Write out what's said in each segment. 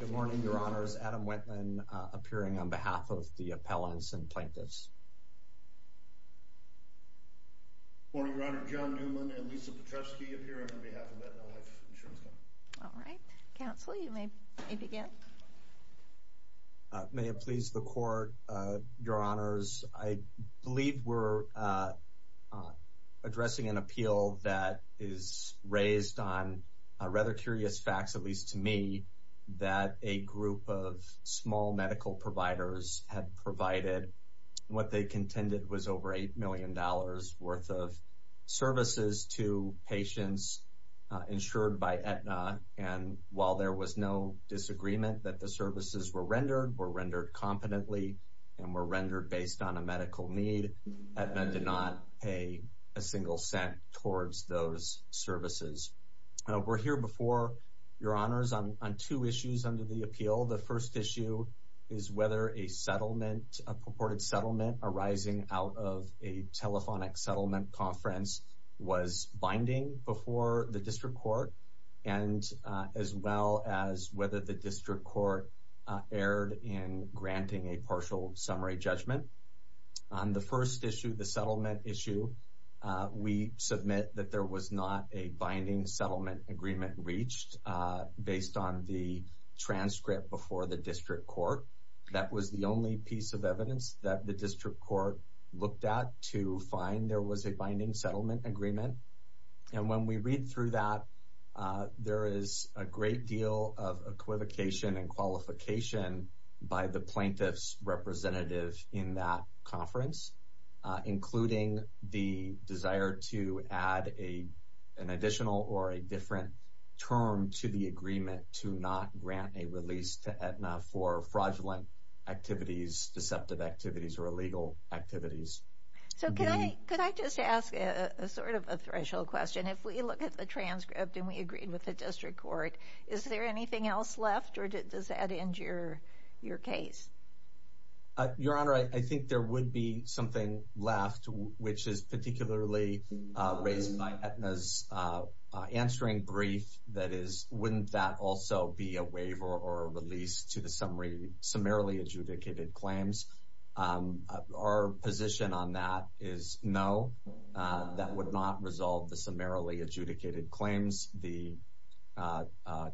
Good morning, your honors. Adam Wendland appearing on behalf of the appellants and plaintiffs. May it please the court, your honors, I believe we're addressing an appeal that is raised on rather curious facts, at least to me, that a group of small medical providers had provided what they contended was over $8 million worth of services to patients insured by Aetna. And while there was no disagreement that the services were rendered, were rendered those services. We're here before your honors on two issues under the appeal. The first issue is whether a settlement, a purported settlement arising out of a telephonic settlement conference was binding before the district court and as well as whether the district court erred in granting a partial summary judgment. On the first issue, the settlement issue, we submit that there was not a binding settlement agreement reached based on the transcript before the district court. That was the only piece of evidence that the district court looked at to find there was a binding settlement agreement. And when we read through that, there is a great deal of equivocation and qualification by the plaintiff's representative in that conference, including the desire to add an additional or a different term to the agreement to not grant a release to Aetna for fraudulent activities, deceptive activities, or illegal activities. So can I just ask a sort of a threshold question? If we look at the transcript and we agreed with the district court, is there anything else left or does that end your case? Your Honor, I think there would be something left, which is particularly raised by Aetna's answering brief. That is, wouldn't that also be a waiver or a release to the summary, summarily adjudicated claims? Our position on that is no, that would not resolve the summarily adjudicated claims. The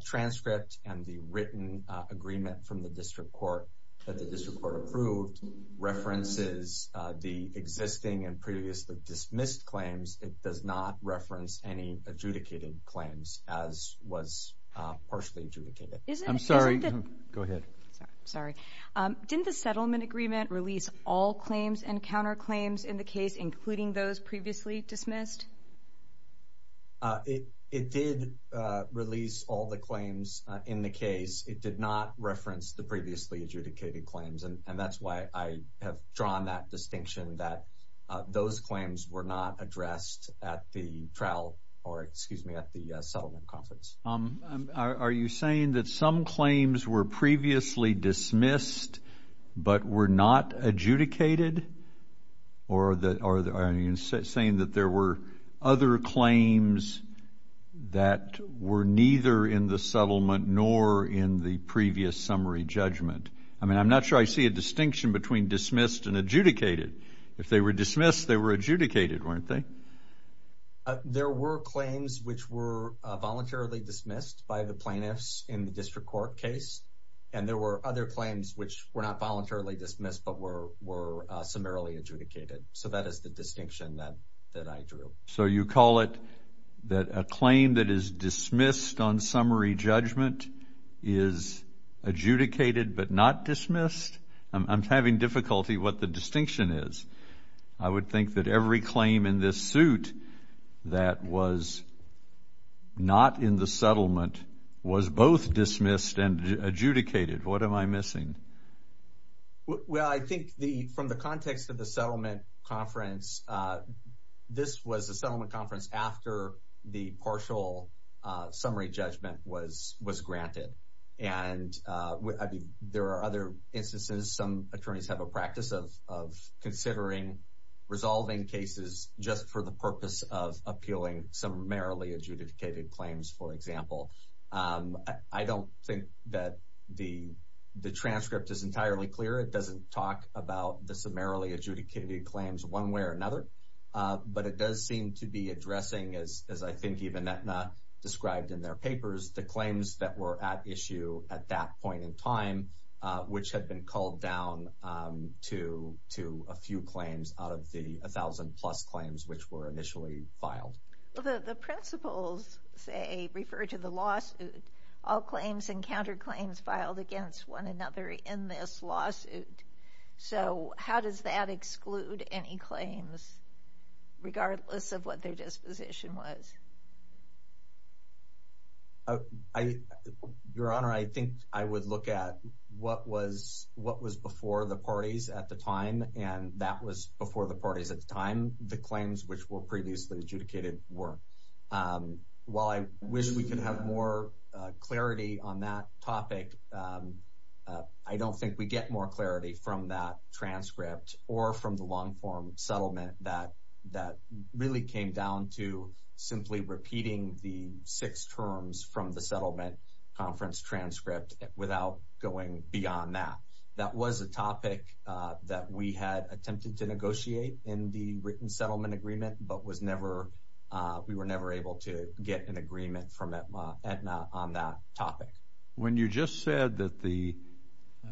transcript and the written agreement from the district court approved references the existing and previously dismissed claims. It does not reference any adjudicated claims as was partially adjudicated. I'm sorry. Go ahead. Sorry. Didn't the settlement agreement release all claims and counterclaims in the case, including those previously dismissed? It did release all the claims in the case. It did not reference the previously adjudicated claims, and that's why I have drawn that distinction that those claims were not addressed at the trial or, excuse me, at the settlement conference. Are you saying that some claims were previously dismissed but were not adjudicated? Or are you saying that there were other claims that were neither in the settlement nor in the previous summary judgment? I mean, I'm not sure I see a distinction between dismissed and adjudicated. If they were dismissed, they were adjudicated, weren't they? There were claims which were voluntarily dismissed by the plaintiffs in the district court case, and there were other claims which were not voluntarily dismissed but were summarily adjudicated. So that is the distinction that I drew. So you call it that a claim that is dismissed on summary judgment is adjudicated but not dismissed? I'm having difficulty what the distinction is. I would think that every claim in this suit that was not in the settlement was both dismissed and adjudicated. What am I missing? Well, I think from the context of the settlement conference, this was the settlement conference after the partial summary judgment was granted. And I mean, there are other instances, some attorneys have a practice of considering resolving cases just for the purpose of appealing summarily adjudicated claims, for example. I don't think that the transcript is entirely clear. It doesn't talk about the summarily adjudicated claims one way or another. But it does seem to be addressing, as I think even Aetna described in their papers, the claims that were at issue at that point in time, which had been called down to a few claims out of the 1,000-plus claims which were initially filed. The principles say, refer to the lawsuit, all claims and counterclaims filed against one another in this lawsuit. So how does that exclude any claims regardless of what their disposition was? Your Honor, I think I would look at what was before the parties at the time, and that was before the parties at the time, the claims which were previously adjudicated were. While I wish we could have more clarity on that topic, I don't think we get more clarity from that transcript or from the long-form settlement that really came down to simply repeating the six terms from the settlement conference transcript without going beyond that. That was a topic that we had attempted to negotiate in the written settlement agreement, but we were never able to get an agreement from Aetna on that topic. When you just said that the,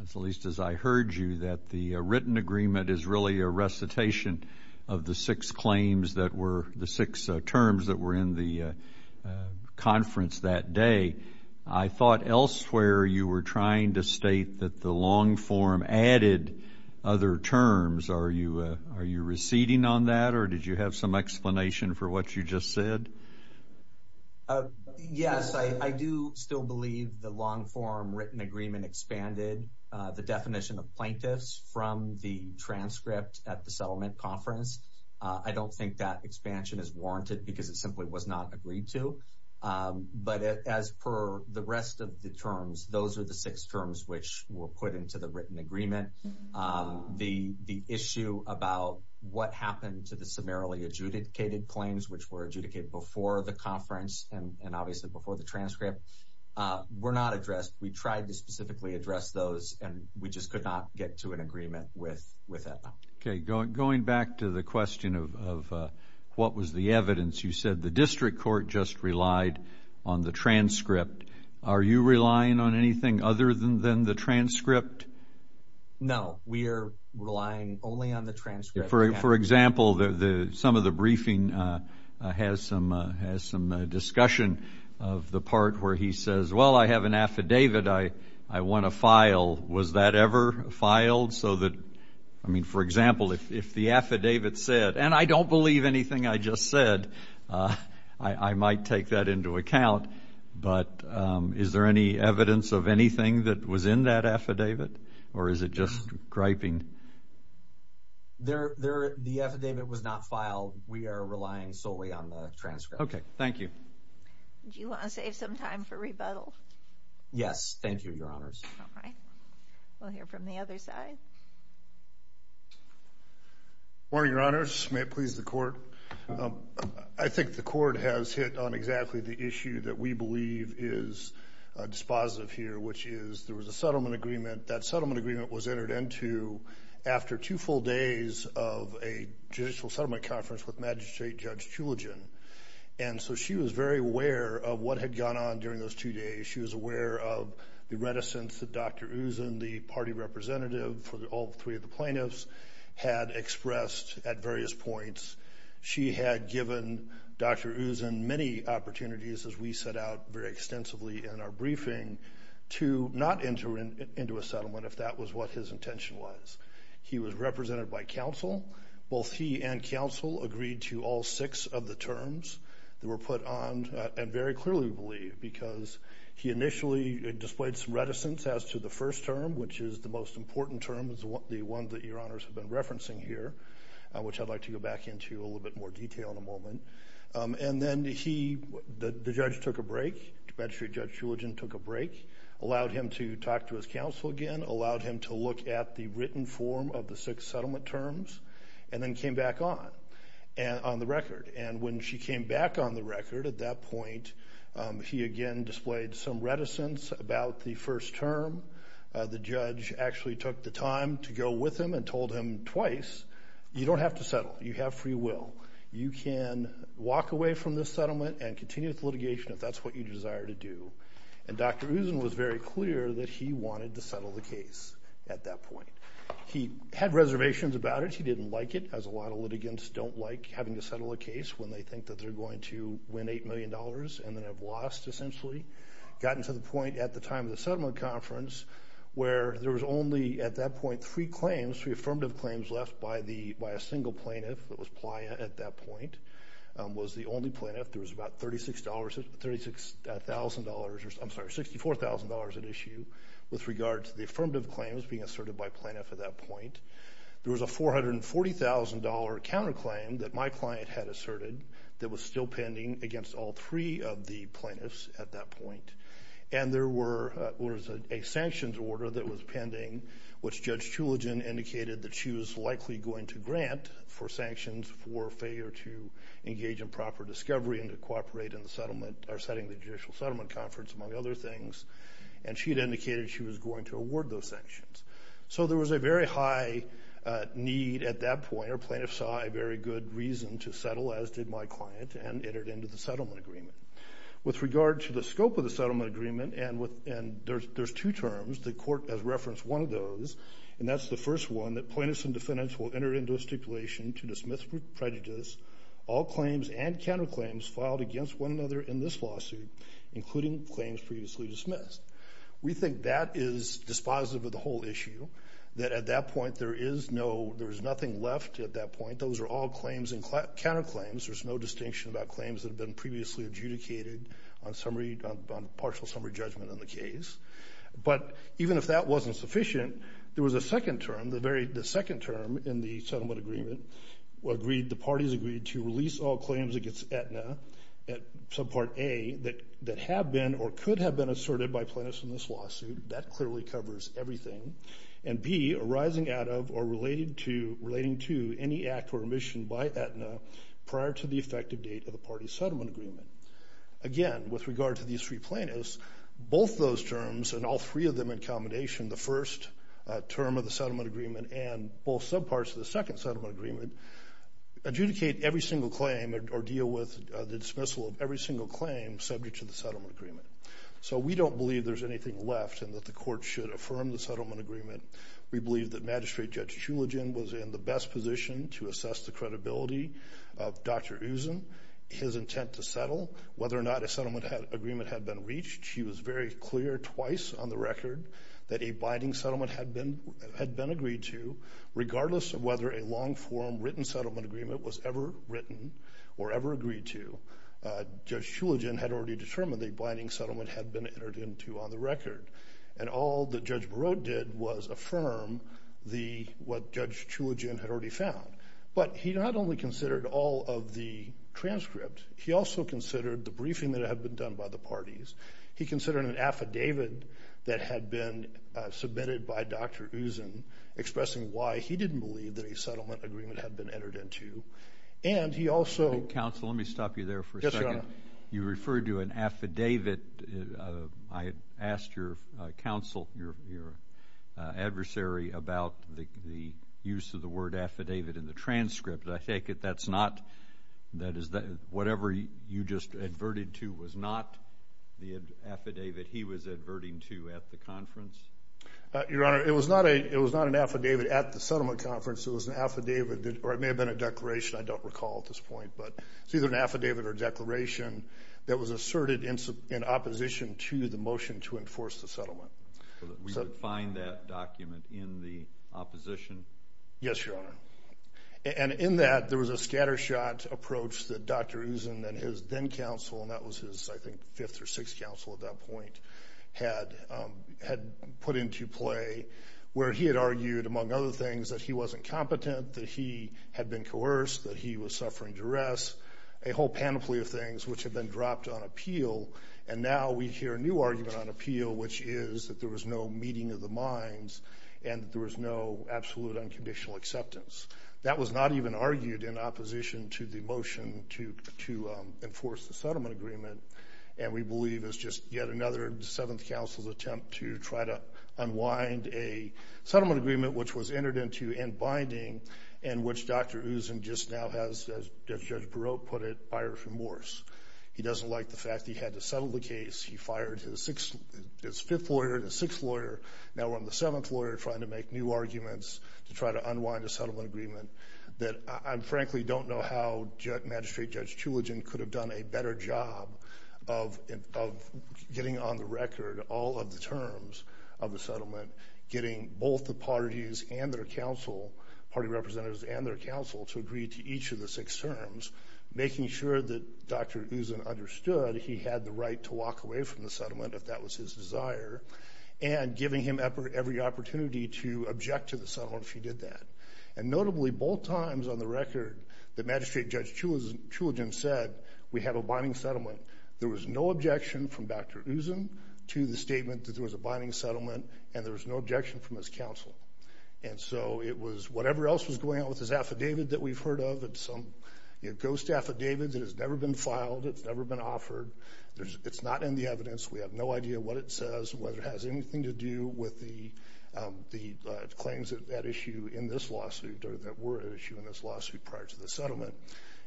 at least as I heard you, that the written agreement is really a recitation of the six claims that were the six terms that were in the conference that day, I thought elsewhere you were trying to state that the long-form added other terms. Are you reciting on that, or did you have some explanation for what you just said? Yes, I do still believe the long-form written agreement expanded the definition of plaintiffs from the transcript at the settlement conference. I don't think that expansion is warranted because it simply was not agreed to, but as per the rest of the terms, those are the six terms which were put into the written agreement. The issue about what happened to the summarily adjudicated claims, which were adjudicated before the conference and obviously before the transcript, were not addressed. We tried to specifically address those, and we just could not get to an agreement with Aetna. Okay, going back to the question of what was the evidence, you said the district court just relied on the transcript. Are you relying on anything other than the transcript? No, we are relying only on the transcript. For example, some of the briefing has some discussion of the part where he says, well, I have an affidavit I want to file. Was that ever filed? I mean, for example, if the affidavit said, and I don't believe anything I just said, I might take that into account, but is there any evidence of anything that was in that affidavit, or is it just griping? The affidavit was not filed. We are relying solely on the transcript. Okay, thank you. Do you want to save some time for rebuttal? Yes, thank you, Your Honors. We'll hear from the other side. Good morning, Your Honors. May it please the Court. I think the Court has hit on exactly the issue that we believe is dispositive here, which is there was a settlement agreement. That settlement agreement was entered into after two full days of a judicial settlement conference with Magistrate Judge Chulagen, and so she was very aware of what had gone on during those two days. She was very aware of the reticence that Dr. Usen, the party representative for all three of the plaintiffs, had expressed at various points. She had given Dr. Usen many opportunities, as we set out very extensively in our briefing, to not enter into a settlement if that was what his intention was. He was represented by counsel. Both he and counsel agreed to all six of the displayed some reticence as to the first term, which is the most important term, the one that Your Honors have been referencing here, which I'd like to go back into a little bit more detail in a moment. Then the judge took a break. Magistrate Judge Chulagen took a break, allowed him to talk to his counsel again, allowed him to look at the written form of the six settlement terms, and then came back on the record. When she came back on the record at that point, he again displayed some reticence about the first term. The judge actually took the time to go with him and told him twice, you don't have to settle. You have free will. You can walk away from this settlement and continue with litigation if that's what you desire to do. And Dr. Usen was very clear that he wanted to settle the case at that point. He had reservations about it. He didn't like it, as a lot of litigants don't like having to settle a case when they think that they're going to win $8 million and then have lost essentially. Gotten to the point at the time of the settlement conference where there was only at that point three claims, three affirmative claims left by a single plaintiff that was Playa at that point, was the only plaintiff. There was about $36,000, I'm sorry, $64,000 at issue with regard to the affirmative claims being asserted by plaintiff at that point. There was a $440,000 counterclaim that my client had asserted that was still against all three of the plaintiffs at that point. And there was a sanctions order that was pending, which Judge Choolagin indicated that she was likely going to grant for sanctions for failure to engage in proper discovery and to cooperate in the settlement or setting the judicial settlement conference, among other things. And she had indicated she was going to award those sanctions. So there was a very high need at that point. Our plaintiffs saw a very good reason to settle, as did my client, and entered into the settlement agreement. With regard to the scope of the settlement agreement, and there's two terms, the court has referenced one of those, and that's the first one, that plaintiffs and defendants will enter into a stipulation to dismiss with prejudice all claims and counterclaims filed against one another in this lawsuit, including claims previously dismissed. We think that is dispositive of the whole issue, that at that point there is no, there's nothing left at that point. Those are all claims and counterclaims. There's no distinction about claims that have been previously adjudicated on summary, on partial summary judgment on the case. But even if that wasn't sufficient, there was a second term, the very, the second term in the settlement agreement agreed, the parties agreed to release all claims against Aetna at subpart A that have been or could have been asserted by plaintiffs in this lawsuit. That clearly covers everything. And B, arising out of or relating to any act or omission by Aetna prior to the effective date of the party's settlement agreement. Again, with regard to these three plaintiffs, both those terms and all three of them in combination, the first term of the settlement agreement and both subparts of the second settlement agreement, adjudicate every single claim or deal with the dismissal of every single claim subject to the settlement agreement. So we don't believe there's anything left and the court should affirm the settlement agreement. We believe that Magistrate Judge Shuligin was in the best position to assess the credibility of Dr. Usen, his intent to settle, whether or not a settlement agreement had been reached. She was very clear twice on the record that a binding settlement had been agreed to, regardless of whether a long form written settlement agreement was ever written or ever agreed to. Judge Shuligin had already determined the binding settlement had been entered into on the record. And all that Judge Barot did was affirm what Judge Shuligin had already found. But he not only considered all of the transcripts, he also considered the briefing that had been done by the parties. He considered an affidavit that had been submitted by Dr. Usen, expressing why he didn't believe that a settlement agreement had been entered into. And he also... Counsel, let me stop you there for a second. You referred to an affidavit. I asked your counsel, your adversary, about the use of the word affidavit in the transcript. I take it that's not, that is, that whatever you just adverted to was not the affidavit he was adverting to at the conference? Your Honor, it was not an affidavit at the settlement conference. It was an affidavit, or it may have been a declaration. I don't recall at this point, but it's either an affidavit or declaration that was asserted in opposition to the motion to enforce the settlement. So that we could find that document in the opposition? Yes, Your Honor. And in that, there was a scattershot approach that Dr. Usen and his then counsel, and that was his, I think, fifth or sixth counsel at that point, had put into play, where he had argued, among other things, that he wasn't competent, that he had been coerced, that he was suffering duress, a whole panoply of things, which had been dropped on appeal. And now we hear a new argument on appeal, which is that there was no meeting of the minds, and there was no absolute unconditional acceptance. That was not even argued in opposition to the motion to enforce the settlement agreement. And we believe it's just yet another seventh counsel's attempt to try to unwind a settlement agreement, which was entered into in binding, and which Dr. Usen just now has, as Judge Barot put it, buyer's remorse. He doesn't like the fact he had to settle the case. He fired his fifth lawyer and his sixth lawyer. Now we're on the seventh lawyer, trying to make new arguments to try to unwind a settlement agreement. That I, frankly, don't know how Magistrate Judge Chulagen could have done a of the settlement, getting both the parties and their counsel, party representatives and their counsel, to agree to each of the six terms, making sure that Dr. Usen understood he had the right to walk away from the settlement, if that was his desire, and giving him every opportunity to object to the settlement if he did that. And notably, both times on the record that Magistrate Judge Chulagen said, we have a binding settlement, there was no objection from Dr. Usen to the statement that there was a binding settlement, and there was no objection from his counsel. And so it was whatever else was going on with his affidavit that we've heard of, it's some ghost affidavit that has never been filed, it's never been offered, it's not in the evidence, we have no idea what it says, whether it has anything to do with the claims that issue in this lawsuit, or that were at issue in this lawsuit prior to the settlement,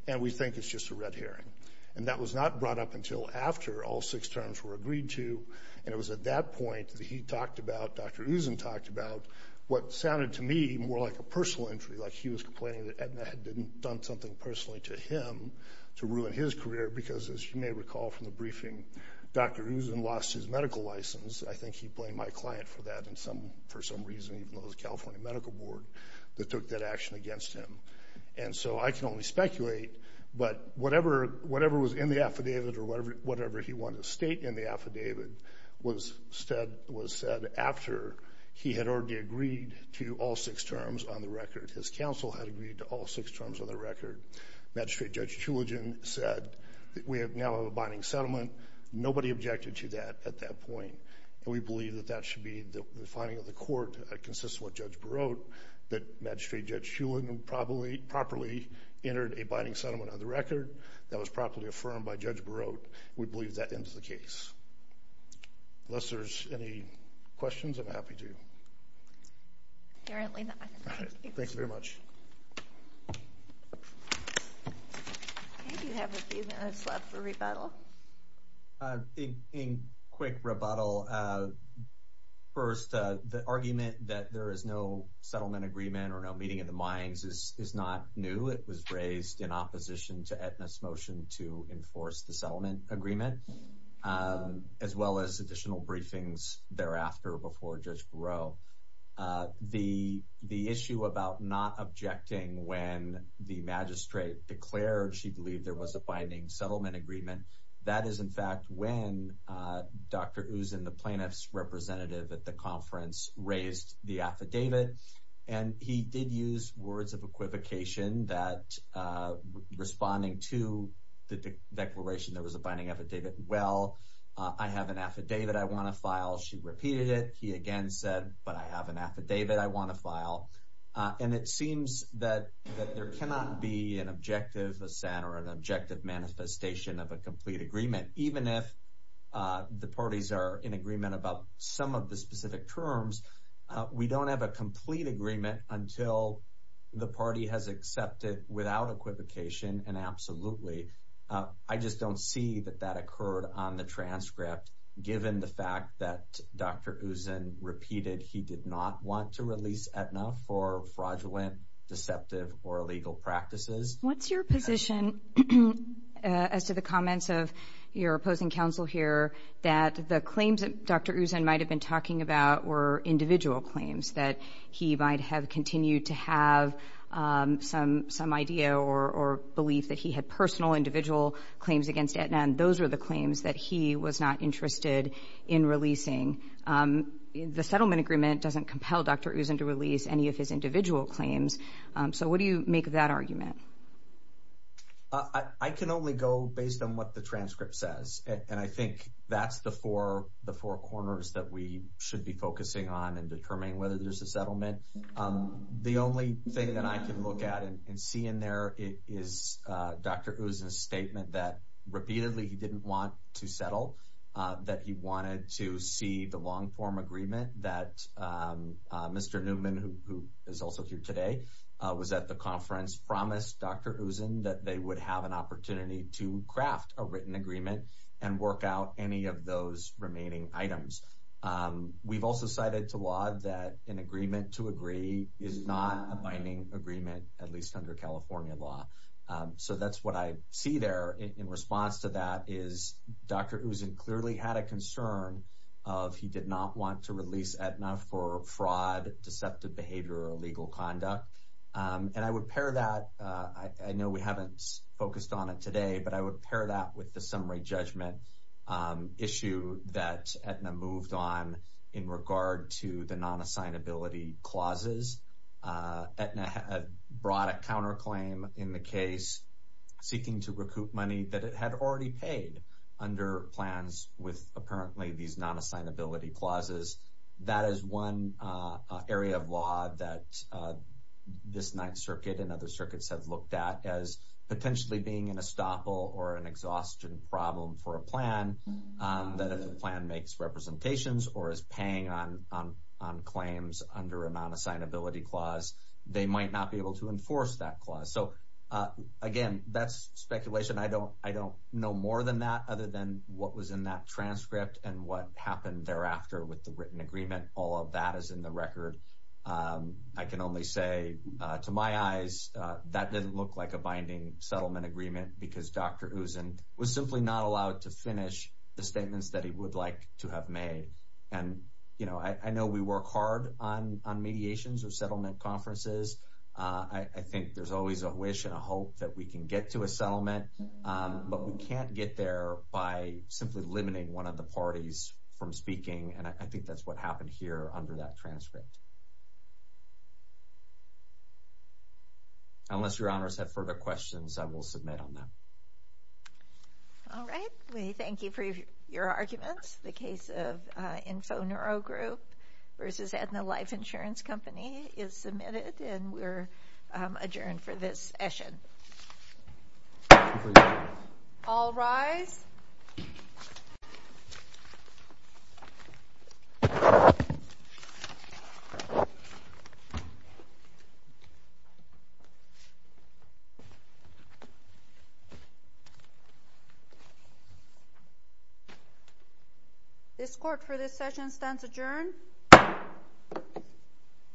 and we think it's just a red herring. And that was not brought up until after all six terms were agreed to, and it was at that point that he talked about, Dr. Usen talked about, what sounded to me more like a personal injury, like he was complaining that Edna had done something personally to him to ruin his career, because as you may recall from the briefing, Dr. Usen lost his medical license. I think he blamed my client for that for some reason, even though it was the California Medical Board that took that action against him. And so I can speculate, but whatever was in the affidavit, or whatever he wanted to state in the affidavit, was said after he had already agreed to all six terms on the record. His counsel had agreed to all six terms on the record. Magistrate Judge Shuligin said, we now have a binding settlement, nobody objected to that at that point, and we believe that that should be the finding of the binding settlement on the record that was properly affirmed by Judge Barot. We believe that ends the case. Unless there's any questions, I'm happy to. Apparently not. All right, thanks very much. I think we have a few minutes left for rebuttal. In quick rebuttal, first, the argument that there is no settlement agreement or no meeting of the minds is not new. It was raised in opposition to Aetna's motion to enforce the settlement agreement, as well as additional briefings thereafter before Judge Barot. The issue about not objecting when the magistrate declared she believed there was a binding settlement agreement, that is in fact when Dr. Usen, the plaintiff's representative at the conference, raised the affidavit. And he did use words of equivocation that responding to the declaration there was a binding affidavit, well, I have an affidavit I want to file. She repeated it. He again said, but I have an affidavit I want to file. And it seems that there cannot be an objective assent or an objective manifestation of a complete agreement, even if the parties are in agreement about some of the specific terms. We don't have a complete agreement until the party has accepted without equivocation and absolutely. I just don't see that that occurred on the transcript, given the fact that Dr. Usen repeated he did not want to release Aetna for fraudulent, deceptive, or illegal practices. What's your position as to the comments of your opposing counsel here that the claims that Dr. Usen might have been talking about were individual claims, that he might have continued to have some idea or belief that he had personal individual claims against Aetna, and those were the claims that he was not interested in releasing. The settlement agreement doesn't compel Dr. Usen to release any of his individual claims. So what do you make of that argument? I can only go based on what the transcript says, and I think that's the four corners that we should be focusing on in determining whether there's a settlement. The only thing that I can look at and see in there is Dr. Usen's statement that repeatedly he didn't want to settle, that he wanted to see the long-form agreement that Mr. Newman, who is also here today, was at the conference promised Dr. Usen that they would have an opportunity to craft a written agreement and work out any of those remaining items. We've also cited to law that an agreement to agree is not a binding agreement, at least under California law. So that's what I see there in response to that is Dr. Usen clearly had a fraud, deceptive behavior, or illegal conduct. And I would pair that, I know we haven't focused on it today, but I would pair that with the summary judgment issue that Aetna moved on in regard to the non-assignability clauses. Aetna had brought a counterclaim in the case seeking to recoup money that it had already paid under plans with apparently these non-assignability clauses. That is one area of law that this Ninth Circuit and other circuits have looked at as potentially being an estoppel or an exhaustion problem for a plan, that if the plan makes representations or is paying on claims under a non-assignability clause, they might not be able to enforce that clause. So again, that's speculation. I don't know more than that, and what happened thereafter with the written agreement, all of that is in the record. I can only say to my eyes that didn't look like a binding settlement agreement because Dr. Usen was simply not allowed to finish the statements that he would like to have made. And, you know, I know we work hard on mediations or settlement conferences. I think there's always a wish and from speaking, and I think that's what happened here under that transcript. Unless your honors have further questions, I will submit on that. All right. We thank you for your arguments. The case of Infoneuro Group versus Aetna Life Insurance Company is submitted, and we're adjourned for this session. All rise. This court for this session stands adjourned.